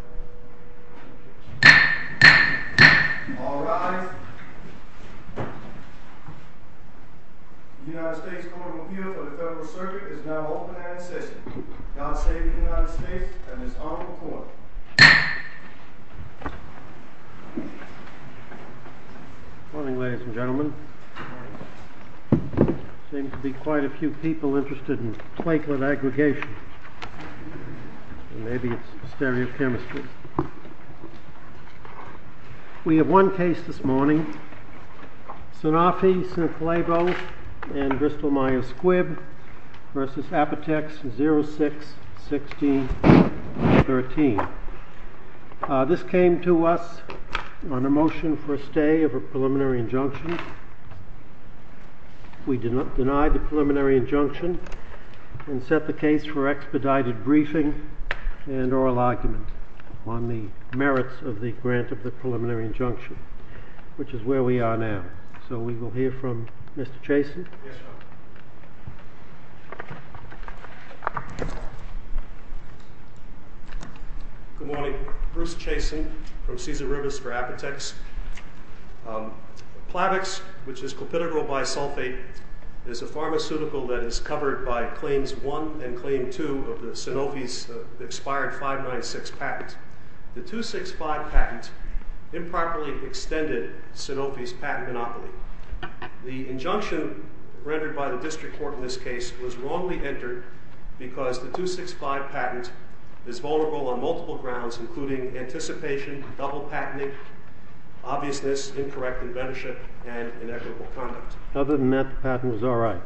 All rise. The United States Court of Appeal for the Federal Circuit is now open and in session. God save the United States and this honorable court. Good morning ladies and gentlemen. Seems to be quite a few people interested in platelet aggregation. Maybe it's stereochemistry. We have one case this morning. Sanofi-Synthelabo and Bristol Myers Squibb v. Apotex 06-16-13. This came to us on a motion for a stay of a preliminary injunction. We denied the preliminary injunction and set the case for expedited briefing and oral argument on the merits of the grant of the preliminary injunction, which is where we are now. So we will hear from Mr. Chasen. Good morning. Bruce Chasen from Caesar Rivers for Apotex. Plavix, which is clopidogrel bisulfate, is a pharmaceutical that is covered by Claims 1 and Claim 2 of the Sanofi's expired 596 patent. The 265 patent improperly extended Sanofi's patent monopoly. The injunction rendered by the district court in this case was wrongly entered because the 265 patent is vulnerable on multiple grounds, including anticipation, double patenting, obviousness, incorrect inventorship, and inequitable conduct. Other than that, the patent is all right.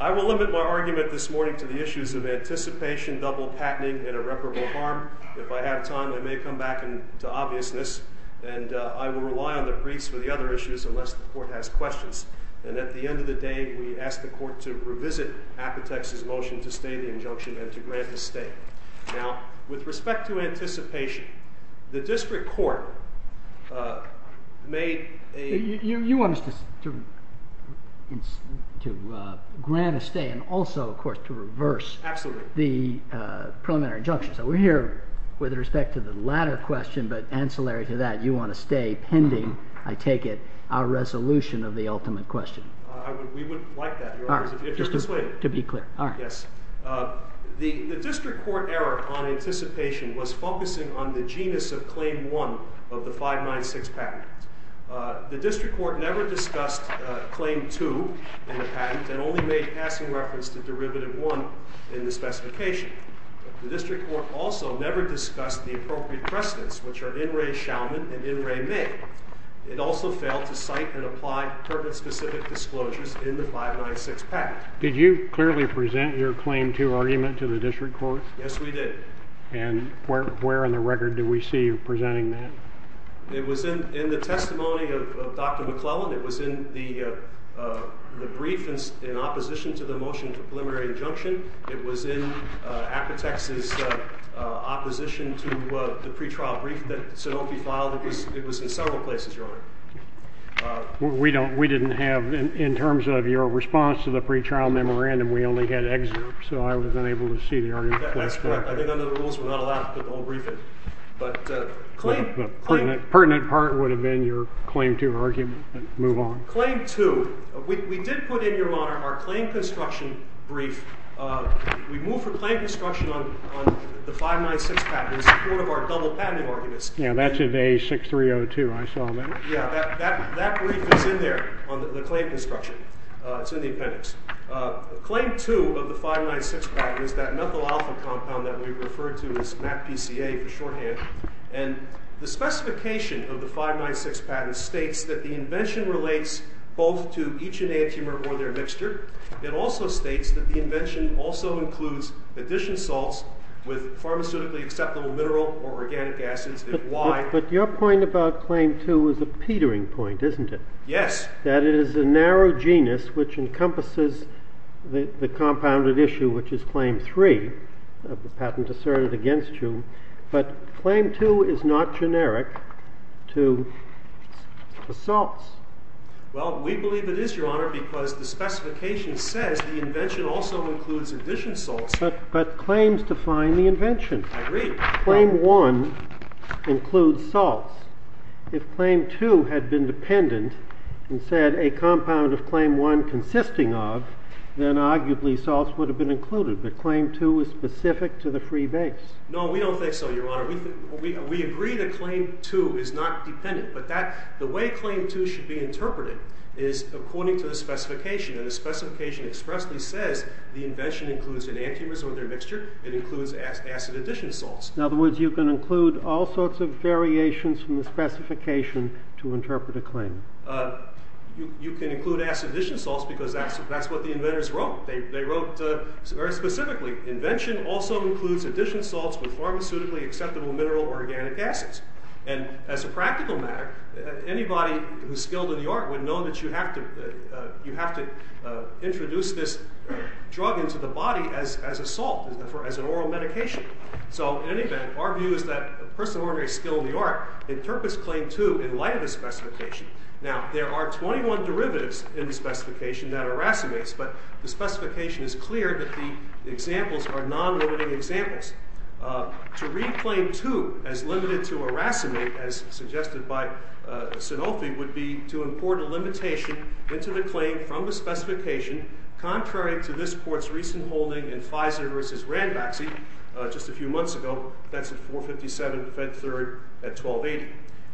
I will limit my argument this morning to the issues of anticipation, double patenting, and irreparable harm. If I have time, I may come back to obviousness. And I will rely on the briefs for the other issues unless the court has questions. And at the end of the day, we ask the court to revisit Apotex's motion to stay the injunction and to grant a stay. Now, with respect to anticipation, the district court made a— You want us to grant a stay and also, of course, to reverse the preliminary injunction. Absolutely. So we're here with respect to the latter question, but ancillary to that, you want to stay pending, I take it, our resolution of the ultimate question. We wouldn't like that. All right. Just to be clear. All right. Yes. The district court error on anticipation was focusing on the genus of Claim 1 of the 596 patent. The district court never discussed Claim 2 in the patent and only made passing reference to Derivative 1 in the specification. The district court also never discussed the appropriate precedents, which are in re shaman and in re may. It also failed to cite and apply purpose-specific disclosures in the 596 patent. Did you clearly present your Claim 2 argument to the district court? Yes, we did. And where on the record did we see you presenting that? It was in the testimony of Dr. McClellan. It was in the brief in opposition to the motion to preliminary injunction. It was in Apotex's opposition to the pretrial brief that Sanofi filed. It was in several places, Your Honor. We didn't have, in terms of your response to the pretrial memorandum, we only had excerpts, so I was unable to see the argument. That's correct. I think under the rules we're not allowed to put the whole brief in. But Claim 2. The pertinent part would have been your Claim 2 argument. Move on. Claim 2. We did put in, Your Honor, our claim construction brief. We moved for claim construction on the 596 patent in support of our double patenting arguments. Yeah, that's in A6302. I saw that. Yeah, that brief is in there on the claim construction. It's in the appendix. Claim 2 of the 596 patent is that methyl alpha compound that we referred to as MACPCA for shorthand. And the specification of the 596 patent states that the invention relates both to each enantiomer or their mixture. It also states that the invention also includes addition salts with pharmaceutically acceptable mineral or organic acids. But your point about Claim 2 is a petering point, isn't it? Yes. That it is a narrow genus which encompasses the compounded issue, which is Claim 3 of the patent asserted against you. But Claim 2 is not generic to the salts. Well, we believe it is, Your Honor, because the specification says the invention also includes addition salts. But claims define the invention. I agree. Claim 1 includes salts. If Claim 2 had been dependent and said a compound of Claim 1 consisting of, then arguably salts would have been included. But Claim 2 is specific to the free base. No, we don't think so, Your Honor. We agree that Claim 2 is not dependent. But the way Claim 2 should be interpreted is according to the specification. And the specification expressly says the invention includes enantiomers or their mixture. It includes acid addition salts. In other words, you can include all sorts of variations from the specification to interpret a claim. You can include acid addition salts because that's what the inventors wrote. They wrote very specifically, invention also includes addition salts with pharmaceutically acceptable mineral or organic acids. And as a practical matter, anybody who's skilled in the art would know that you have to introduce this drug into the body as a salt, as an oral medication. So in any event, our view is that a person of ordinary skill in the art interprets Claim 2 in light of the specification. Now, there are 21 derivatives in the specification that are racemates. But the specification is clear that the examples are non-limiting examples. To read Claim 2 as limited to a racemate, as suggested by Sanofi, would be to import a limitation into the claim from the specification, contrary to this court's recent holding in Fizer v. Ranbaxy just a few months ago. That's at 457 Fed Third at 1280.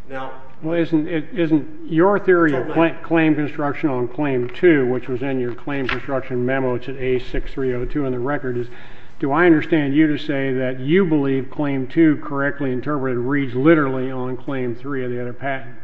Now, isn't your theory of claim construction on Claim 2, which was in your claim construction memo, it's at A6302 in the record, do I understand you to say that you believe Claim 2 correctly interpreted reads literally on Claim 3 of the other patent?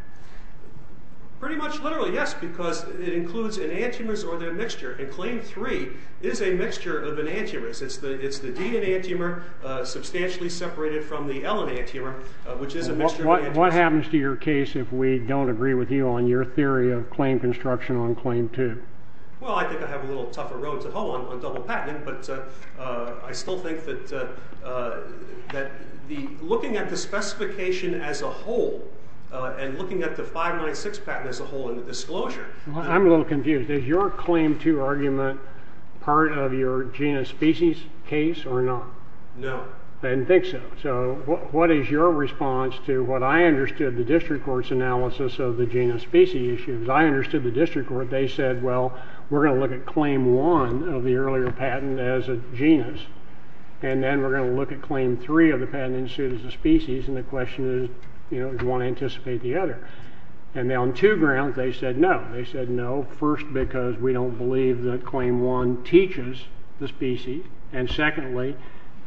Pretty much literally, yes, because it includes enantiomers or their mixture. And Claim 3 is a mixture of enantiomers. It's the D enantiomer substantially separated from the L enantiomer, which is a mixture of enantiomers. What happens to your case if we don't agree with you on your theory of claim construction on Claim 2? Well, I think I have a little tougher road to hoe on double patenting, but I still think that looking at the specification as a whole and looking at the 596 patent as a whole in the disclosure. I'm a little confused. Is your Claim 2 argument part of your genus species case or not? No. I didn't think so. So what is your response to what I understood the district court's analysis of the genus species issue? Because I understood the district court. They said, well, we're going to look at Claim 1 of the earlier patent as a genus, and then we're going to look at Claim 3 of the patent as soon as the species, and the question is, do you want to anticipate the other? And on two grounds, they said no. They said no, first, because we don't believe that Claim 1 teaches the species, and secondly,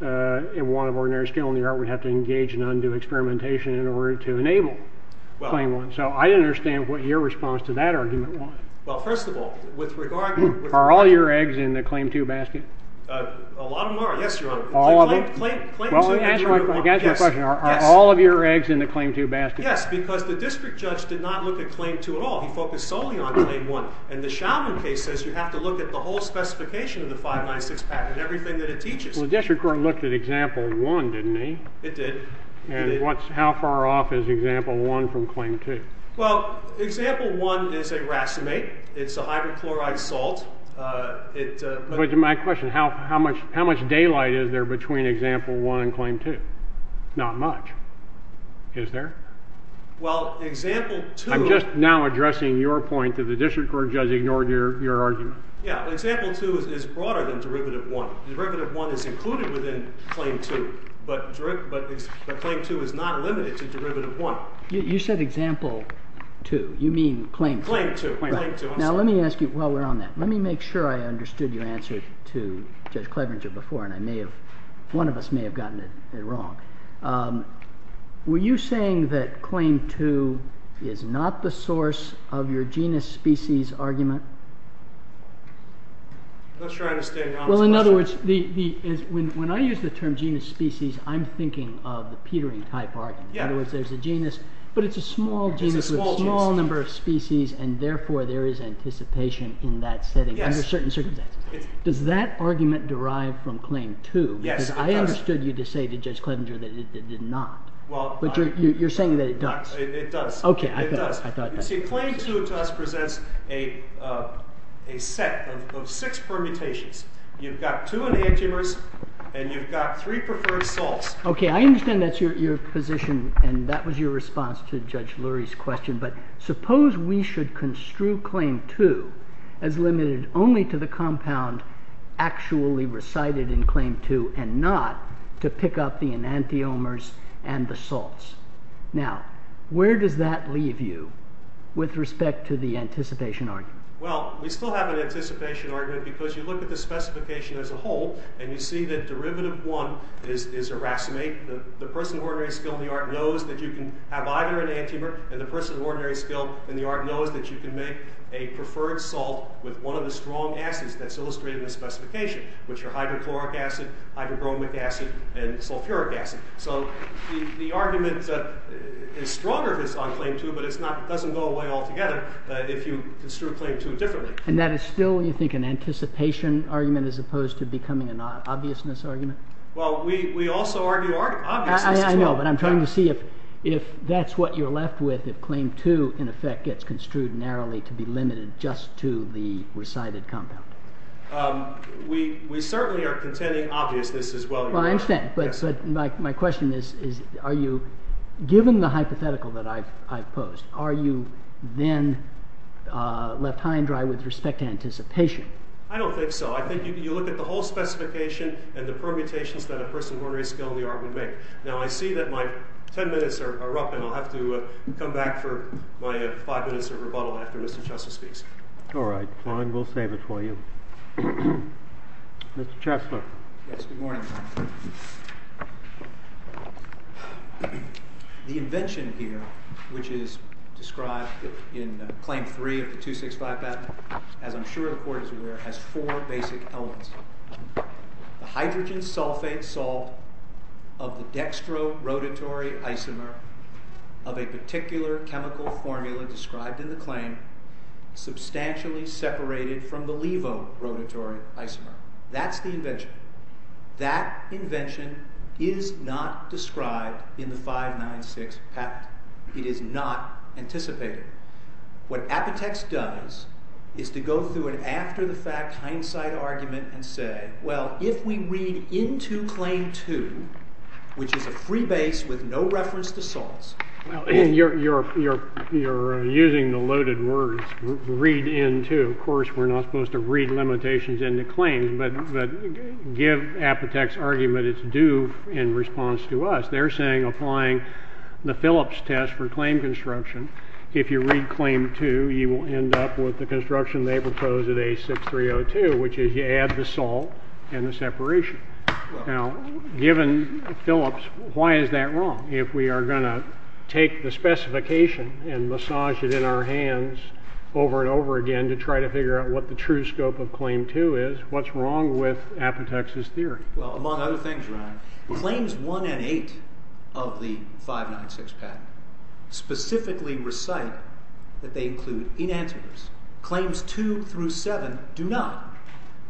in one of ordinary skill in the art, we'd have to engage in undue experimentation in order to enable Claim 1. So I didn't understand what your response to that argument was. Well, first of all, with regard to the – Are all your eggs in the Claim 2 basket? A lot of them are, yes, Your Honor. All of them? Claim 2 and Claim 1, yes. Well, let me ask you a question. Are all of your eggs in the Claim 2 basket? Yes, because the district judge did not look at Claim 2 at all. He focused solely on Claim 1, and the Chauvin case says you have to look at the whole specification of the 596 patent, everything that it teaches. Well, the district court looked at Example 1, didn't he? It did. And how far off is Example 1 from Claim 2? Well, Example 1 is a racemate. It's a hydrochloride salt. But to my question, how much daylight is there between Example 1 and Claim 2? Not much, is there? Well, Example 2 – I'm just now addressing your point that the district court judge ignored your argument. Yeah. Example 2 is broader than Derivative 1. Derivative 1 is included within Claim 2, but Claim 2 is not limited to Derivative 1. You said Example 2. You mean Claim 2. Claim 2. Now, let me ask you while we're on that. Let me make sure I understood your answer to Judge Cleveringer before, and one of us may have gotten it wrong. Were you saying that Claim 2 is not the source of your genus species argument? I'm not sure I understand your honest question. Well, in other words, when I use the term genus species, I'm thinking of the petering type argument. In other words, there's a genus, but it's a small genus with a small number of species, and therefore there is anticipation in that setting under certain circumstances. Does that argument derive from Claim 2? Yes, it does. Because I understood you to say to Judge Clevenger that it did not. But you're saying that it does. It does. Okay, I thought that. You see, Claim 2 to us presents a set of six permutations. You've got two enantiomers, and you've got three preferred salts. Okay, I understand that's your position, and that was your response to Judge Lurie's question. But suppose we should construe Claim 2 as limited only to the compound actually recited in Claim 2 and not to pick up the enantiomers and the salts. Now, where does that leave you with respect to the anticipation argument? Well, we still have an anticipation argument because you look at the specification as a whole, and you see that derivative 1 is a racemate. The person of ordinary skill in the art knows that you can have either an enantiomer, and the person of ordinary skill in the art knows that you can make a preferred salt with one of the strong acids that's illustrated in the specification, which are hydrochloric acid, hydrobromic acid, and sulfuric acid. So the argument is stronger if it's on Claim 2, but it doesn't go away altogether if you construe Claim 2 differently. And that is still, you think, an anticipation argument as opposed to becoming an obviousness argument? Well, we also argue obviousness as well. I know, but I'm trying to see if that's what you're left with if Claim 2, in effect, gets construed narrowly to be limited just to the recited compound. We certainly are contending obviousness as well. Well, I understand, but my question is, given the hypothetical that I've posed, are you then left high and dry with respect to anticipation? I don't think so. I think you look at the whole specification and the permutations that a person of ordinary skill in the art would make. Now, I see that my 10 minutes are up, and I'll have to come back for my five minutes of rebuttal after Mr. Chesler speaks. All right. Fine. We'll save it for you. Mr. Chesler. Yes, good morning. The invention here, which is described in Claim 3 of the 265 patent, as I'm sure the Court is aware, has four basic elements. The hydrogen sulfate salt of the dextrorotatory isomer of a particular chemical formula described in the claim substantially separated from the levo rotatory isomer. That's the invention. That invention is not described in the 596 patent. It is not anticipated. What Apotex does is to go through an after-the-fact hindsight argument and say, well, if we read into Claim 2, which is a free base with no reference to salts. Well, you're using the loaded words, read into. Of course, we're not supposed to read limitations into claims, but give Apotex argument. It's due in response to us. They're saying applying the Phillips test for claim construction, if you read Claim 2, you will end up with the construction they propose at A6302, which is you add the salt and the separation. Now, given Phillips, why is that wrong? If we are going to take the specification and massage it in our hands over and over again to try to figure out what the true scope of Claim 2 is, what's wrong with Apotex's theory? Well, among other things, Ryan, Claims 1 and 8 of the 596 patent specifically recite that they include enantiomers. Claims 2 through 7 do not.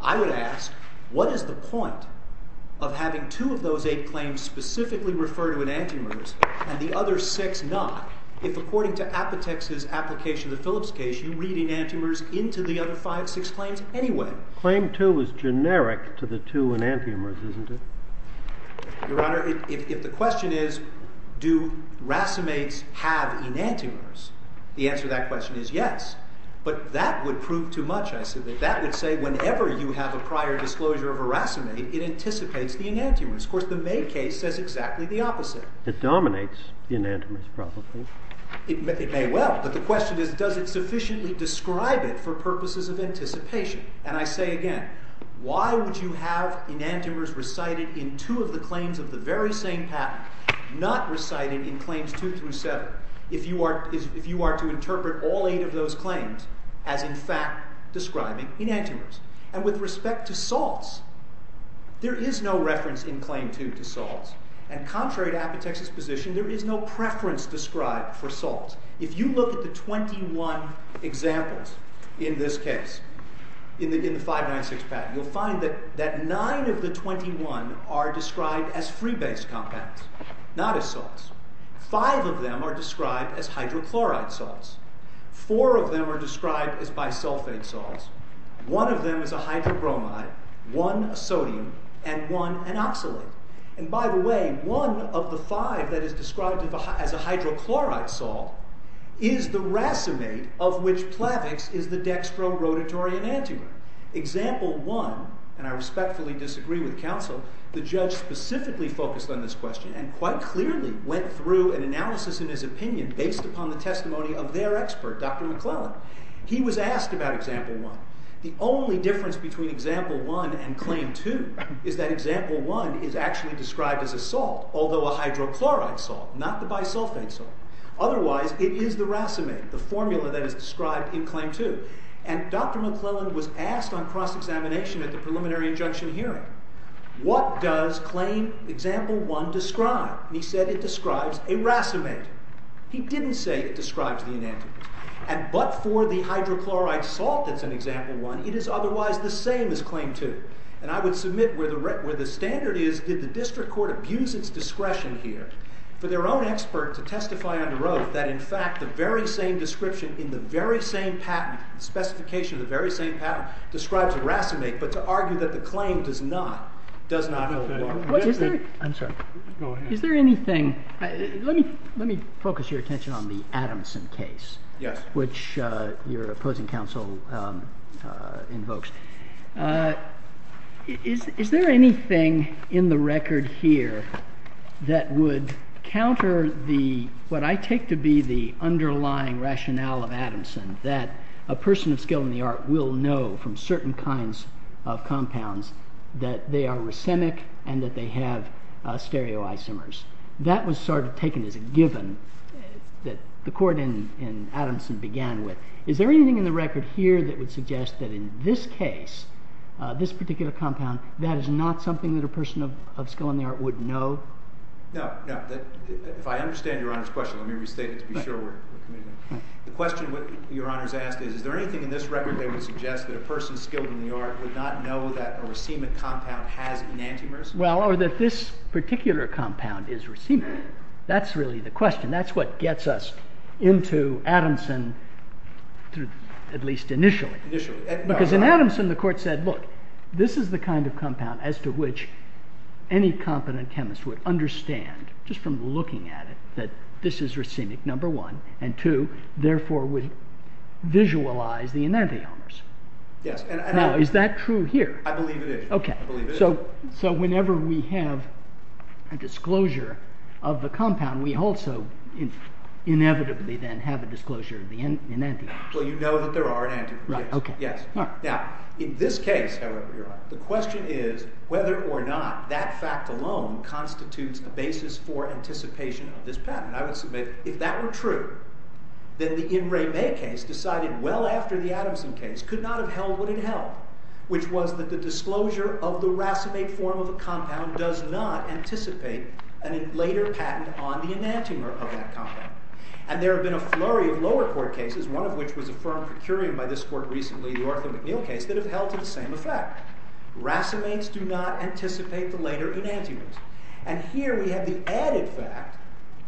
I would ask, what is the point of having two of those eight claims specifically refer to enantiomers and the other six not if, according to Apotex's application of the Phillips case, you read enantiomers into the other five, six claims anyway? Claim 2 is generic to the two enantiomers, isn't it? Your Honor, if the question is, do racemates have enantiomers, the answer to that question is yes. But that would prove too much, I submit. That would say whenever you have a prior disclosure of a racemate, it anticipates the enantiomers. Of course, the May case says exactly the opposite. It dominates enantiomers, probably. It may well. But the question is, does it sufficiently describe it for purposes of anticipation? And I say again, why would you have enantiomers recited in two of the claims of the very same patent, not reciting in Claims 2 through 7 if you are to interpret all eight of those claims as, in fact, describing enantiomers? And with respect to salts, there is no reference in Claim 2 to salts. And contrary to Apotex's position, there is no preference described for salts. If you look at the 21 examples in this case, in the 596 patent, you'll find that nine of the 21 are described as free-based compounds, not as salts. Five of them are described as hydrochloride salts. Four of them are described as bisulfate salts. One of them is a hydrobromide, one a sodium, and one an oxalate. And by the way, one of the five that is described as a hydrochloride salt is the racemate of which Plavix is the dextrorotatory enantiomer. Example 1, and I respectfully disagree with counsel, the judge specifically focused on this question and quite clearly went through an analysis in his opinion based upon the testimony of their expert, Dr. McClellan. He was asked about Example 1. The only difference between Example 1 and Claim 2 is that Example 1 is actually described as a salt, although a hydrochloride salt, not the bisulfate salt. Otherwise, it is the racemate, the formula that is described in Claim 2. And Dr. McClellan was asked on cross-examination at the preliminary injunction hearing, what does Claim Example 1 describe? And he said it describes a racemate. He didn't say it describes the enantiomer. And but for the hydrochloride salt that's in Example 1, it is otherwise the same as Claim 2. And I would submit where the standard is, did the district court abuse its discretion here for their own expert to testify under oath that, in fact, the very same description in the very same patent, the specification of the very same patent, describes a racemate, but to argue that the claim does not hold water. Is there anything? Let me focus your attention on the Adamson case. Yes. Which your opposing counsel invokes. Is there anything in the record here that would counter the, what I take to be the underlying rationale of Adamson, that a person of skill in the art will know from certain kinds of compounds that they are racemic and that they have stereoisomers? That was sort of taken as a given that the court in Adamson began with. Is there anything in the record here that would suggest that in this case, this particular compound, that is not something that a person of skill in the art would know? No, no. If I understand your Honor's question, let me restate it to be sure we're committed. The question your Honor's asked is, is there anything in this record that would suggest that a person skilled in the art would not know that a racemic compound has enantiomers? Well, or that this particular compound is racemic. That's really the question. That's what gets us into Adamson, at least initially. Initially. Because in Adamson the court said, look, this is the kind of compound as to which any competent chemist would understand, just from looking at it, that this is racemic, number one. And two, therefore would visualize the enantiomers. Yes. Now, is that true here? I believe it is. Okay. So whenever we have a disclosure of the compound, we also inevitably then have a disclosure of the enantiomers. Well, you know that there are enantiomers. Right, okay. Yes. Now, in this case, however, your Honor, the question is whether or not that fact alone constitutes a basis for anticipation of this patent. I would submit if that were true, then the In Re Me case, decided well after the Adamson case, could not have held what it held, which was that the disclosure of the racemate form of a compound does not anticipate a later patent on the enantiomer of that compound. And there have been a flurry of lower court cases, one of which was affirmed curiam by this court recently, the Arthur McNeil case, that have held to the same effect. Racemates do not anticipate the later enantiomers. And here we have the added fact,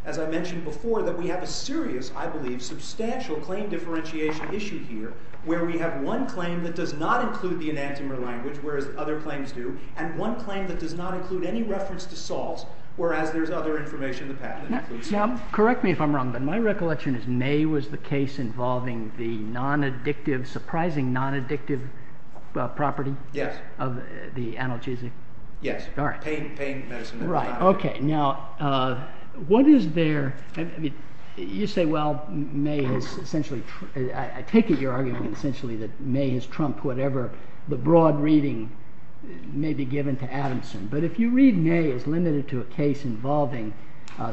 as I mentioned before, that we have a serious, I believe, substantial claim differentiation issue here, where we have one claim that does not include the enantiomer language, whereas other claims do, and one claim that does not include any reference to Sahls, whereas there is other information in the patent. Now, correct me if I'm wrong, but my recollection is May was the case involving the non-addictive, surprising non-addictive property? Yes. Of the analgesic? Yes. All right. Pain medicine. Right. Okay. Now, what is there, I mean, you say, well, May has essentially, I take it you're arguing essentially that May has trumped whatever the broad reading may be given to Adamson. But if you read May as limited to a case involving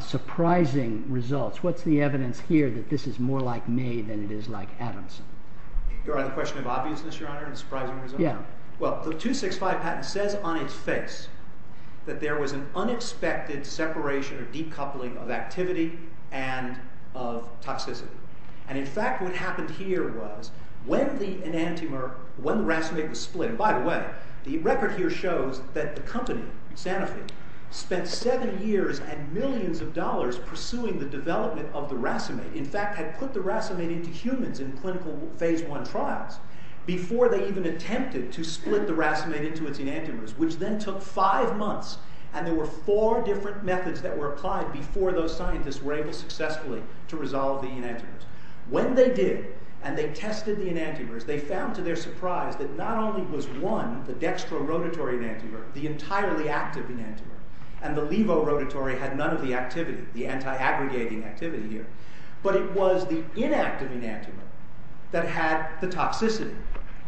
surprising results, what's the evidence here that this is more like May than it is like Adamson? You're on the question of obviousness, Your Honor, and surprising results? Yeah. Well, the 265 patent says on its face that there was an unexpected separation or decoupling of activity and toxicity. And, in fact, what happened here was when the enantiomer, when the racemate was split, and by the way, the record here shows that the company, Sanofi, spent seven years and millions of dollars pursuing the development of the racemate, in fact, had put the racemate into humans in clinical phase one trials before they even attempted to split the racemate into its enantiomers, which then took five months. And there were four different methods that were applied before those scientists were able successfully to resolve the enantiomers. When they did, and they tested the enantiomers, they found to their surprise that not only was one, the dextrorotatory enantiomer, the entirely active enantiomer, and the levorotatory had none of the activity, the anti-aggregating activity here, but it was the inactive enantiomer that had the toxicity,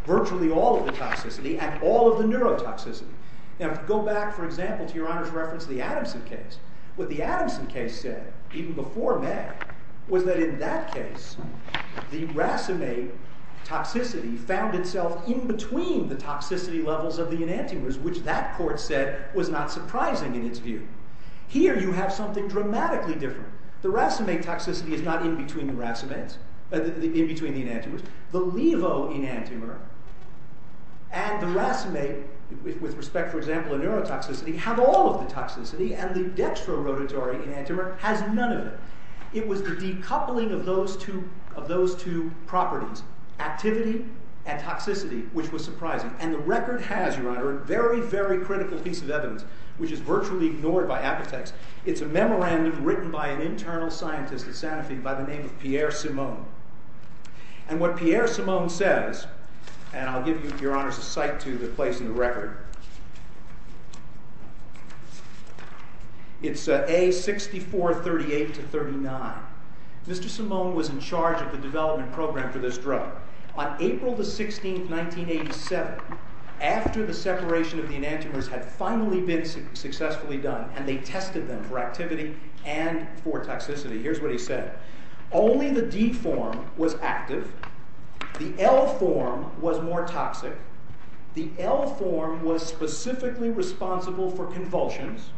virtually all of the toxicity, and all of the neurotoxicity. Now, go back, for example, to Your Honor's reference to the Adamson case. What the Adamson case said, even before May, was that in that case, the racemate toxicity found itself in between the toxicity levels of the enantiomers, which that court said was not surprising in its view. Here, you have something dramatically different. The racemate toxicity is not in between the racemates, in between the enantiomers. The levorotatory enantiomer and the racemate, with respect, for example, to neurotoxicity, have all of the toxicity, and the dextrorotatory enantiomer has none of it. It was the decoupling of those two properties, activity and toxicity, which was surprising. And the record has, Your Honor, a very, very critical piece of evidence, which is virtually ignored by apothecs. It's a memorandum written by an internal scientist at Santa Fe and by the name of Pierre Simon. And what Pierre Simon says, and I'll give Your Honor's a cite to the place in the record. It's A6438-39. Mr. Simon was in charge of the development program for this drug. On April 16, 1987, after the separation of the enantiomers had finally been successfully done, and they tested them for activity and for toxicity, here's what he said. Only the D form was active. The L form was more toxic. The L form was specifically responsible for convulsions.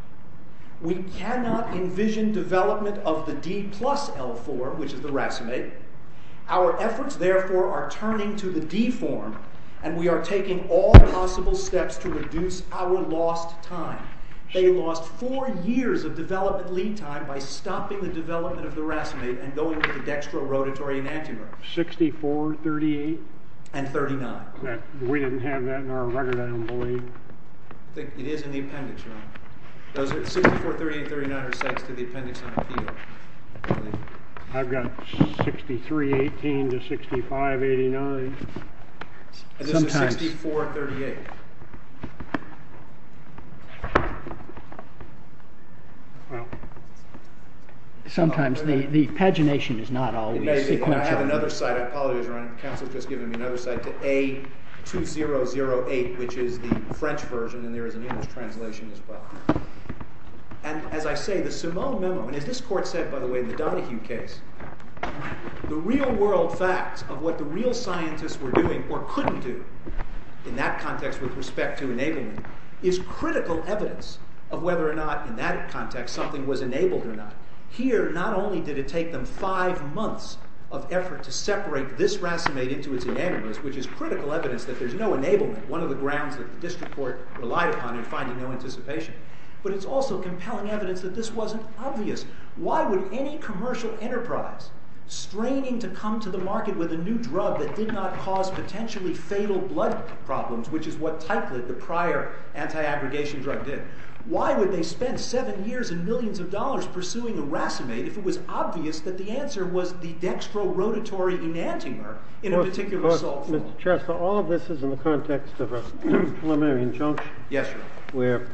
We cannot envision development of the D plus L form, which is the racemate. Our efforts, therefore, are turning to the D form, and we are taking all possible steps to reduce our lost time. They lost four years of development lead time by stopping the development of the racemate and going with the dextrorotatory enantiomer. 6438? And 39. We didn't have that in our record, I don't believe. It is in the appendix, Your Honor. 6438 and 39 are cites to the appendix on appeal. I've got 6318 to 6589. This is 6438. Sometimes the pagination is not always sequential. I have another cite. I apologize, Your Honor. Counsel has just given me another cite to A2008, which is the French version, and there is an English translation as well. And as I say, the Simone memo, and as this court said, by the way, in the Donahue case, the real world facts of what the real scientists were doing or couldn't do in that context with respect to enablement is critical evidence of whether or not in that context something was enabled or not. Here, not only did it take them five months of effort to separate this racemate into its enantiomers, which is critical evidence that there's no enablement, one of the grounds that the district court relied upon in finding no anticipation, but it's also compelling evidence that this wasn't obvious. Why would any commercial enterprise straining to come to the market with a new drug that did not cause potentially fatal blood problems, which is what Teichlid, the prior anti-aggregation drug, did? Why would they spend seven years and millions of dollars pursuing a racemate if it was obvious that the answer was the dextrorotatory enantiomer in a particular source? All of this is in the context of a preliminary injunction where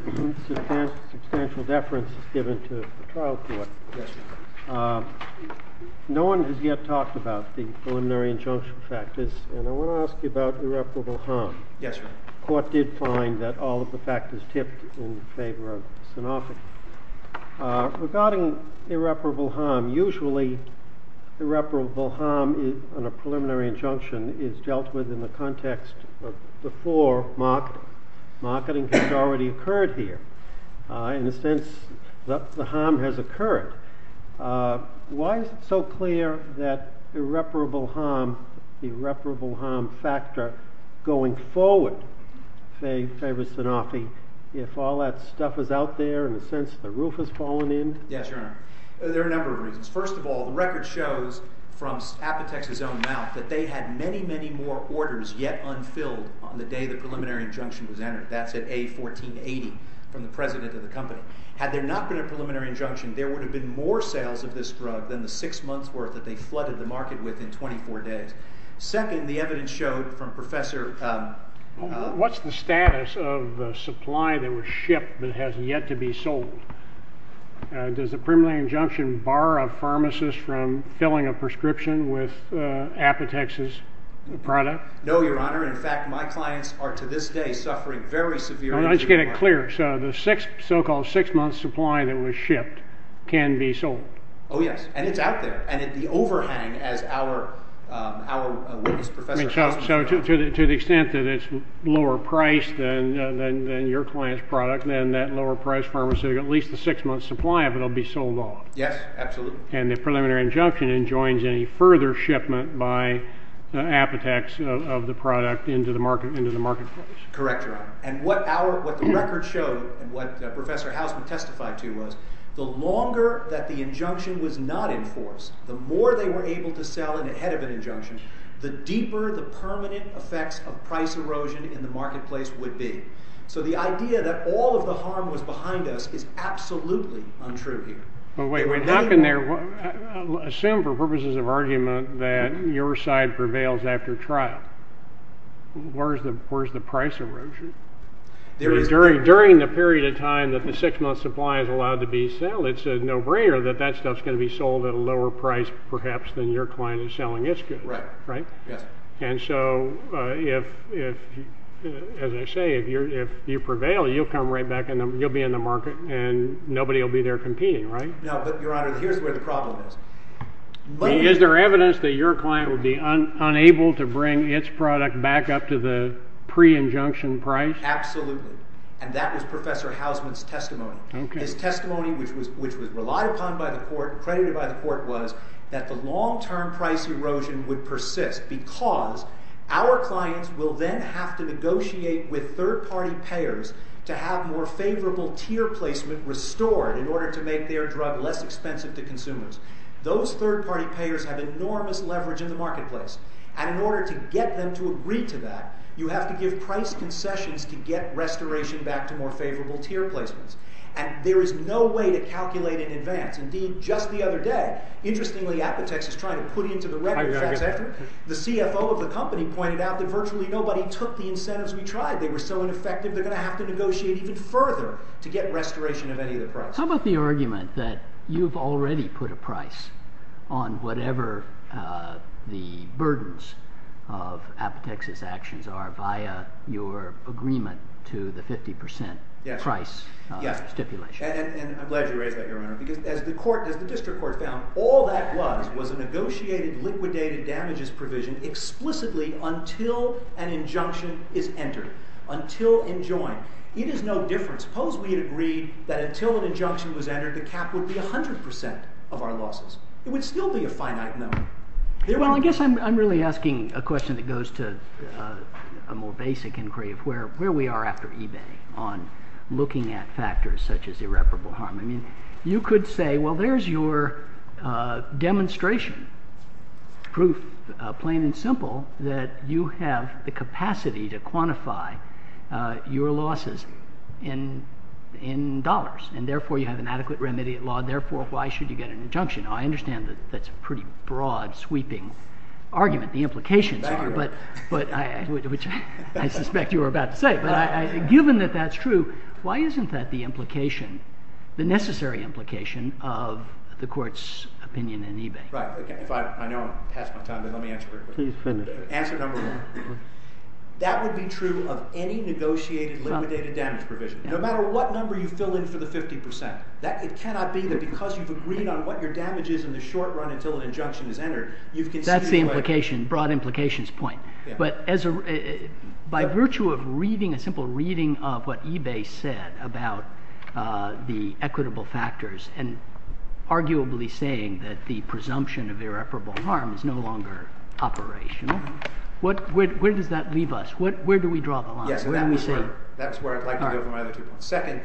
substantial deference is given to the trial court. No one has yet talked about the preliminary injunction factors, and I want to ask you about irreparable harm. Yes, sir. The court did find that all of the factors tipped in favor of synophagy. Regarding irreparable harm, usually irreparable harm on a preliminary injunction is dealt with in the context of before marketing. Marketing has already occurred here. In a sense, the harm has occurred. Why is it so clear that irreparable harm, going forward, favors synophagy if all that stuff is out there, in a sense, the roof has fallen in? Yes, Your Honor. There are a number of reasons. First of all, the record shows from Apotex's own mouth that they had many, many more orders yet unfilled on the day the preliminary injunction was entered. That's at A1480 from the president of the company. Had there not been a preliminary injunction, there would have been more sales of this drug than the six months' worth that they flooded the market with in 24 days. Second, the evidence showed from Professor... What's the status of the supply that was shipped that has yet to be sold? Does the preliminary injunction bar a pharmacist from filling a prescription with Apotex's product? No, Your Honor. In fact, my clients are, to this day, suffering very severe... Let's get it clear. So the so-called six-month supply that was shipped can be sold? Oh, yes. And it's out there. And the overhang, as our witness, Professor... So to the extent that it's lower-priced than your client's product, then that lower-priced pharmaceutical, at least the six-month supply of it will be sold off? Yes, absolutely. And the preliminary injunction enjoins any further shipment by Apotex of the product into the marketplace? Correct, Your Honor. And what the record showed, and what Professor Hausman testified to, was the longer that the injunction was not enforced, the more they were able to sell it ahead of an injunction, the deeper the permanent effects of price erosion in the marketplace would be. So the idea that all of the harm was behind us is absolutely untrue here. But wait. How can there... Assume, for purposes of argument, that your side prevails after trial. Where's the price erosion? During the period of time that the six-month supply is allowed to be sold, it's a no-brainer that that stuff's going to be sold at a lower price, perhaps, than your client is selling its good, right? Yes. And so, as I say, if you prevail, you'll be in the market and nobody will be there competing, right? No, but, Your Honor, here's where the problem is. Is there evidence that your client will be unable to bring its product back up to the pre-injunction price? Absolutely. And that was Professor Hausman's testimony. His testimony, which was relied upon by the court, credited by the court, was that the long-term price erosion would persist because our clients will then have to negotiate with third-party payers to have more favorable tier placement restored in order to make their drug less expensive to consumers. Those third-party payers have enormous leverage in the marketplace. And in order to get them to agree to that, you have to give price concessions to get restoration back to more favorable tier placements. And there is no way to calculate in advance. Indeed, just the other day, interestingly, Apotex is trying to put into the record that the CFO of the company pointed out that virtually nobody took the incentives we tried. They were so ineffective, they're going to have to negotiate even further to get restoration of any of the price. How about the argument that you've already put a price on whatever the burdens of Apotex's actions are via your agreement to the 50% price stipulation? Yes, and I'm glad you raised that, Your Honor, because as the district court found, all that was was a negotiated liquidated damages provision explicitly until an injunction is entered, until enjoined. It is no different. Suppose we had agreed that until an injunction was entered, the cap would be 100% of our losses. It would still be a finite number. Well, I guess I'm really asking a question that goes to a more basic inquiry of where we are after eBay on looking at factors such as irreparable harm. I mean, you could say, well, there's your demonstration, proof, plain and simple, that you have the capacity to quantify your losses in dollars, and therefore, you have an adequate remedy at law, therefore, why should you get an injunction? Now, I understand that that's a pretty broad, sweeping argument. The implications are, but, which I suspect you were about to say, but given that that's true, why isn't that the implication, the necessary implication, of the court's opinion in eBay? Right. I know I'm past my time, but let me answer very quickly. Please finish. Answer number one. That would be true of any negotiated liquidated damage provision. No matter what number you fill in for the 50%. It cannot be that because you've agreed on what your damage is in the short run until an injunction is entered, you've conceded... That's the implication, broad implications point. But, by virtue of reading, a simple reading of what eBay said about the equitable factors, and arguably saying that the presumption of irreparable harm is no longer operational, where does that leave us? Where do we draw the line? Yes, that's where I'd like to go with my other two points. Second,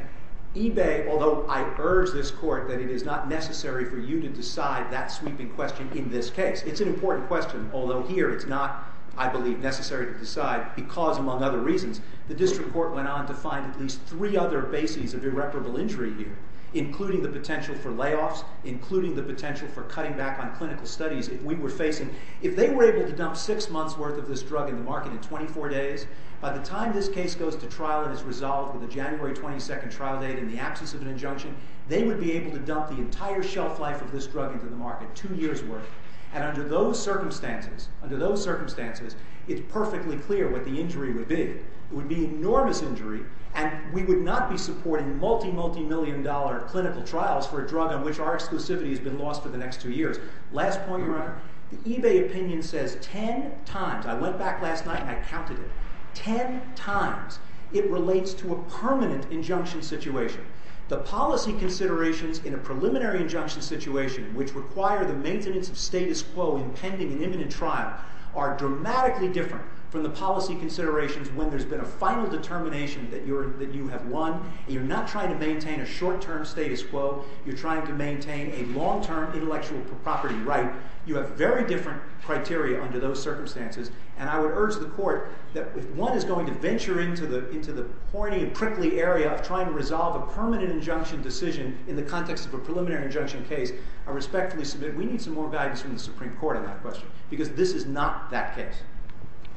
eBay, although I urge this court that it is not necessary for you to decide that sweeping question in this case. It's an important question, although here it's not, I believe, necessary to decide because, among other reasons, the district court went on to find at least three other bases of irreparable injury here, including the potential for layoffs, including the potential for cutting back on clinical studies. If we were facing... If they were able to dump six months' worth of this drug in the market in 24 days, by the time this case goes to trial and is resolved with a January 22nd trial date in the absence of an injunction, they would be able to dump the entire shelf life of this drug into the market, two years' worth. And under those circumstances, under those circumstances, it's perfectly clear what the injury would be. It would be enormous injury, and we would not be supporting multi-multi-million dollar clinical trials for a drug on which our exclusivity has been lost for the next two years. Last point, Your Honor, the eBay opinion says ten times, I went back last night and I counted it, ten times it relates to a permanent injunction situation. The policy considerations in a preliminary injunction situation which require the maintenance of status quo in pending and imminent trial are dramatically different from the policy considerations when there's been a final determination that you have won, and you're not trying to maintain a short-term status quo, you're trying to maintain a long-term intellectual property right. You have very different criteria under those circumstances, and I would urge the Court that if one is going to venture into the horny and prickly area of trying to resolve a permanent injunction decision in the context of a preliminary injunction case, I respectfully submit we need some more guidance from the Supreme Court on that question, because this is not that case.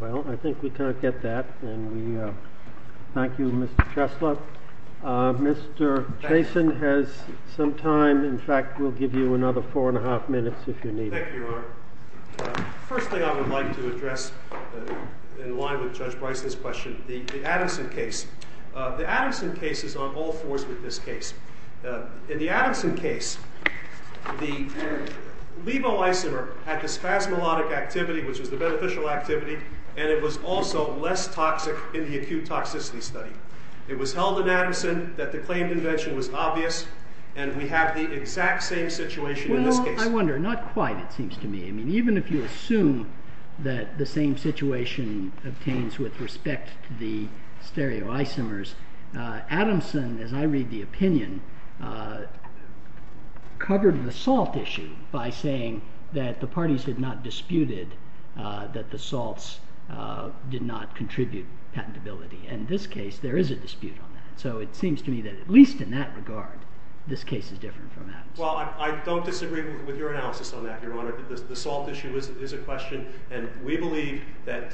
Well, I think we kind of get that, and we thank you, Mr. Chesler. Mr. Chasen has some time. In fact, we'll give you another four and a half minutes if you need it. Thank you, Your Honor. First thing I would like to address in line with Judge Bryce's question, the Addison case. The Addison case is on all fours with this case. In the Addison case, the levo isomer had this spasmodic activity, which was the beneficial activity, and it was also less toxic in the acute toxicity study. It was held in Addison that the claimed invention was obvious, and we have the exact same situation in this case. Well, I wonder. Not quite, it seems to me. I mean, even if you assume that the same situation obtains with respect to the stereoisomers, Addison, as I read the opinion, covered the salt issue by saying that the parties had not disputed that the salts did not contribute patentability. In this case, there is a dispute on that. So it seems to me that at least in that regard, this case is different from Addison. Well, I don't disagree with your analysis on that, Your Honor. The salt issue is a question, and we believe that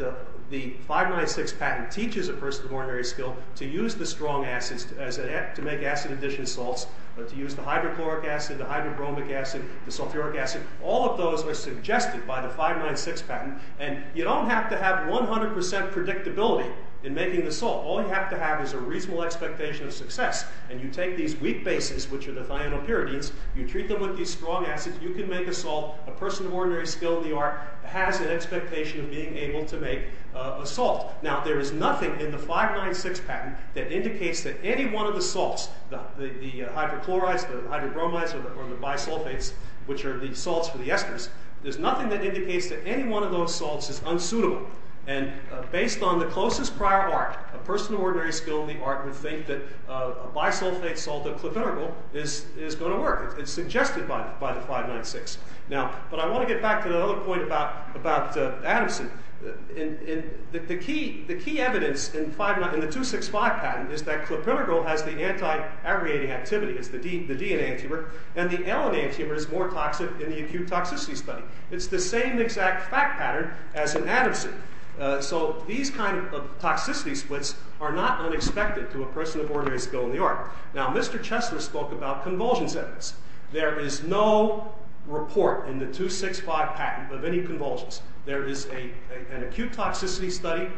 the 596 patent teaches a person of ordinary skill to use the strong acids to make acid addition salts, to use the hydrochloric acid, the hydrobromic acid, the sulfuric acid. All of those are suggested by the 596 patent, and you don't have to have 100% predictability in making the salt. All you have to have is a reasonable expectation of success, and you take these weak bases, which are the thionylpuridines, you treat them with these strong acids, you can make a salt. A person of ordinary skill in the art has an expectation of being able to make a salt. Now, there is nothing in the 596 patent that indicates that any one of the salts, the hydrochlorides, the hydrobromides, or the bisulfates, which are the salts for the esters, there's nothing that indicates that any one of those salts is unsuitable. And based on the closest prior art, a person of ordinary skill in the art would think that a bisulfate salt, a clovergle, is going to work. It's suggested by the 596. Now, but I want to get back to another point about Adamson. The key evidence in the 265 patent is that clovergle has the anti-aggregating activity, it's the DNA tumor, and the LNA tumor is more toxic in the acute toxicity study. It's the same exact fact pattern as in Adamson. So these kind of toxicity splits are not unexpected to a person of ordinary skill in the art. Now, Mr. Chesler spoke about convulsions evidence. There is no report in the 265 patent of any convulsions. There is an acute toxicity study.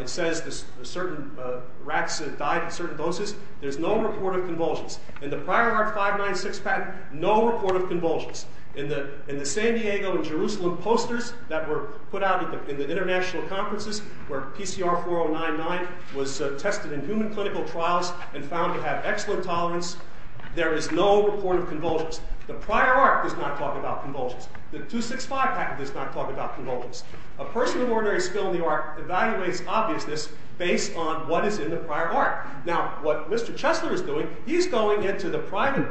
It says that certain rats have died at certain doses. There's no report of convulsions. In the prior art 596 patent, no report of convulsions. In the San Diego and Jerusalem posters that were put out in the international conferences where PCR 4099 was tested in human clinical trials and found to have excellent tolerance, there is no report of convulsions. The prior art does not talk about convulsions. The 265 patent does not talk about convulsions. A person of ordinary skill in the art evaluates obviousness based on what is in the prior art. Now, what Mr. Chesler is doing, he's going into the private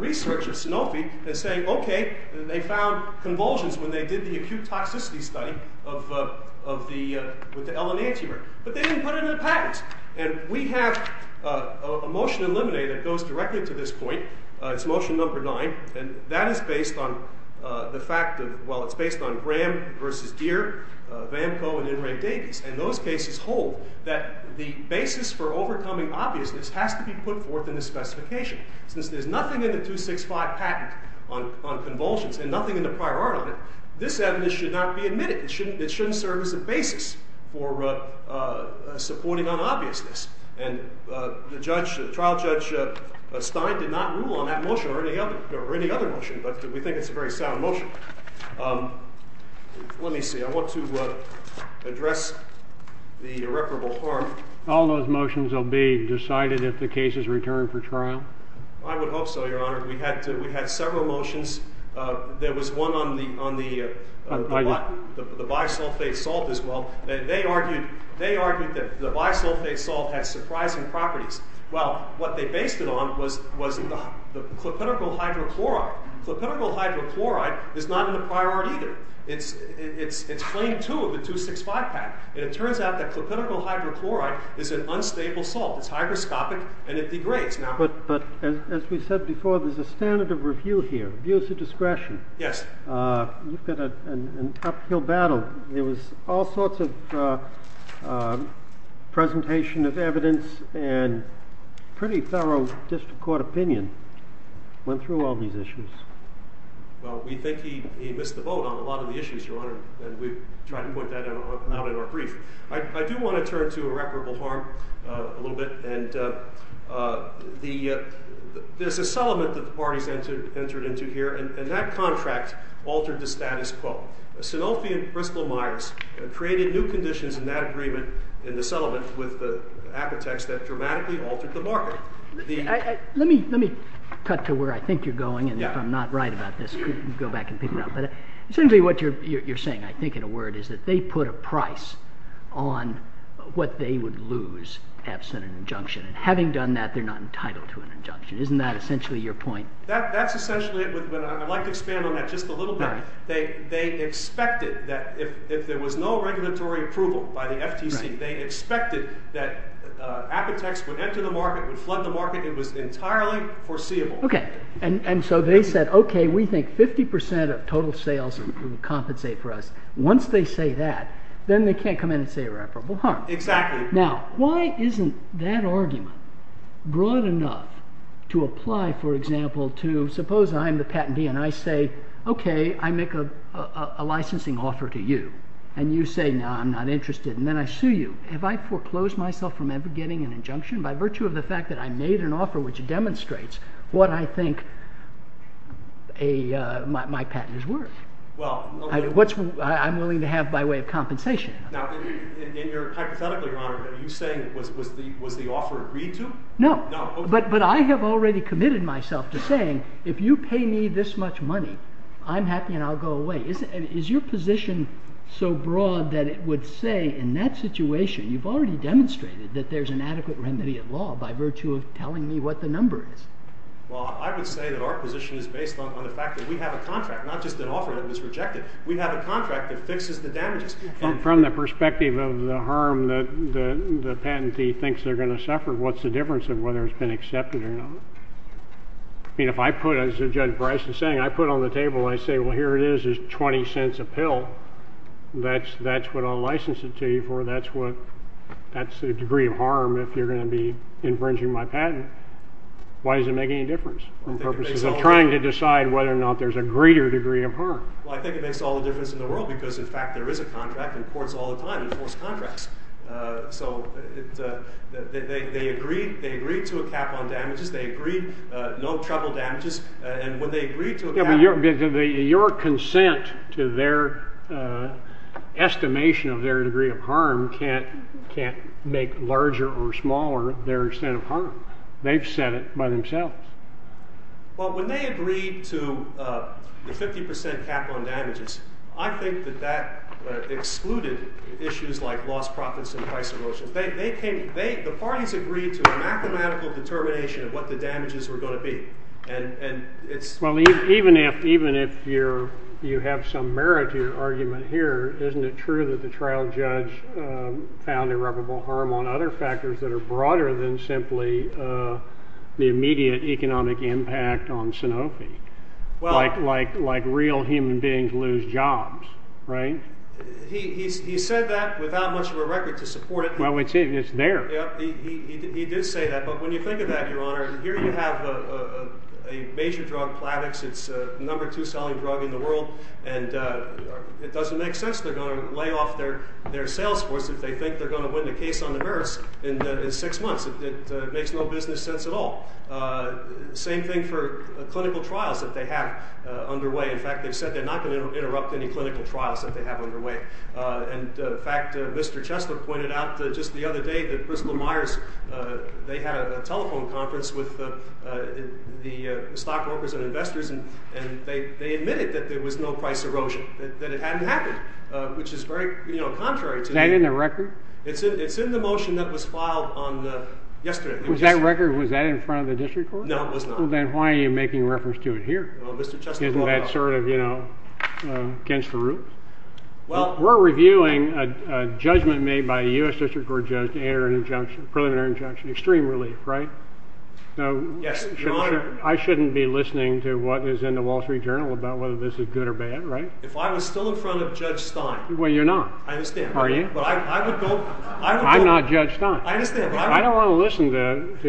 research of Sanofi and saying, okay, they found convulsions when they did the acute toxicity study with the LNA tumor, but they didn't put it in the patent. And we have a motion eliminated that goes directly to this point. It's motion number 9, and that is based on the fact that, well, it's based on Graham v. Deere, Vamco, and Inring-Davies. And those cases hold that the basis for overcoming obviousness has to be put forth in the specification. Since there's nothing in the 265 patent on convulsions and nothing in the prior art on it, this evidence should not be admitted. It shouldn't serve as a basis for supporting unobviousness. And the trial judge, Stein, did not rule on that motion or any other motion, but we think it's a very sound motion. Let me see. I want to address the irreparable harm. All those motions will be decided if the case is returned for trial? I would hope so, Your Honor. We had several motions. There was one on the bisulfate salt as well. They argued that the bisulfate salt had surprising properties. Well, what they based it on was the clopidogrel hydrochloride. Clopidogrel hydrochloride is not in the prior art either. It's claim two of the 265 patent, and it turns out that clopidogrel hydrochloride is an unstable salt. It's hygroscopic, and it degrades. But as we said before, there's a standard of review here, views of discretion. Yes. You've got an uphill battle. There was all sorts of presentation of evidence and pretty thorough district court opinion went through all these issues. Well, we think he missed the boat on a lot of the issues, Your Honor, and we've tried to point that out in our brief. I do want to turn to irreparable harm a little bit, and there's a settlement that the parties entered into here, and that contract altered the status quo. Sanofi and Bristol Myers created new conditions in that agreement in the settlement with the architects that dramatically altered the market. Let me cut to where I think you're going, and if I'm not right about this, you can go back and pick it up. Essentially what you're saying, I think, in a word, is that they put a price on what they would lose absent an injunction, and having done that, they're not entitled to an injunction. Isn't that essentially your point? That's essentially it. I'd like to expand on that just a little bit. They expected that if there was no regulatory approval by the FTC, they expected that Apotex would enter the market, would flood the market. It was entirely foreseeable. Okay, and so they said, okay, we think 50% of total sales would compensate for us. Once they say that, then they can't come in and say irreparable harm. Exactly. Now, why isn't that argument broad enough to apply, for example, to suppose I'm the patentee, and I say, okay, I make a licensing offer to you, and you say, no, I'm not interested, and then I sue you. Have I foreclosed myself from ever getting an injunction by virtue of the fact that I made an offer which demonstrates what I think my patent is worth? I'm willing to have by way of compensation. Now, hypothetically, Your Honor, are you saying was the offer agreed to? No. But I have already committed myself to saying, if you pay me this much money, I'm happy and I'll go away. Is your position so broad that it would say, in that situation, you've already demonstrated that there's an adequate remedy at law by virtue of telling me what the number is? Well, I would say that our position is based on the fact that we have a contract, not just an offer that was rejected. We have a contract that fixes the damages. From the perspective of the harm that the patentee thinks they're going to suffer, what's the difference of whether it's been accepted or not? I mean, if I put, as Judge Bryce is saying, I put on the table and I say, well, here it is. It's 20 cents a pill. That's what I'll license it to you for. That's the degree of harm if you're going to be infringing my patent. Why does it make any difference? I'm trying to decide whether or not there's a greater degree of harm. Well, I think it makes all the difference in the world because, in fact, there is a contract and courts all the time enforce contracts. So they agreed to a cap on damages. They agreed no treble damages. And when they agreed to a cap on damages... Yeah, but your consent to their estimation of their degree of harm can't make larger or smaller their extent of harm. They've said it by themselves. Well, when they agreed to the 50% cap on damages, I think that that excluded issues like lost profits and price emotions. The parties agreed to a mathematical determination of what the damages were going to be. And it's... Well, even if you have some merit to your argument here, isn't it true that the trial judge found irreparable harm on other factors that are broader than simply the immediate economic impact on Sanofi? Well... Like real human beings lose jobs, right? He said that without much of a record to support it. Well, it's there. Yeah, he did say that. But when you think of that, Your Honor, here you have a major drug, Plavix. It's the number two selling drug in the world. And it doesn't make sense they're going to lay off their sales force if they think they're going to win the case on the nurse in six months. It makes no business sense at all. Same thing for clinical trials that they have underway. In fact, they've said they're not going to interrupt any clinical trials that they have underway. And they admitted that there was no price erosion, that it hadn't happened. Is that in the record? It's in the motion that was filed yesterday. Was that in front of the district court? No, it was not. Then why are you making reference to it here? Isn't that sort of against the rules? We're reviewing a judgment made by a U.S. district court judge to enter a preliminary injunction. Extreme relief, right? I shouldn't be listening to what's in the Wall Street Journal about whether this is good or bad, right? If I was still in front of Judge Chastain, I wouldn't in the Journal whether bad, I'm not listening to what's in the Wall Street Journal about whether this is good or bad, right? I'm not I can't enjoy this if I can't enjoy it. I can't enjoy it. I can't enjoy it.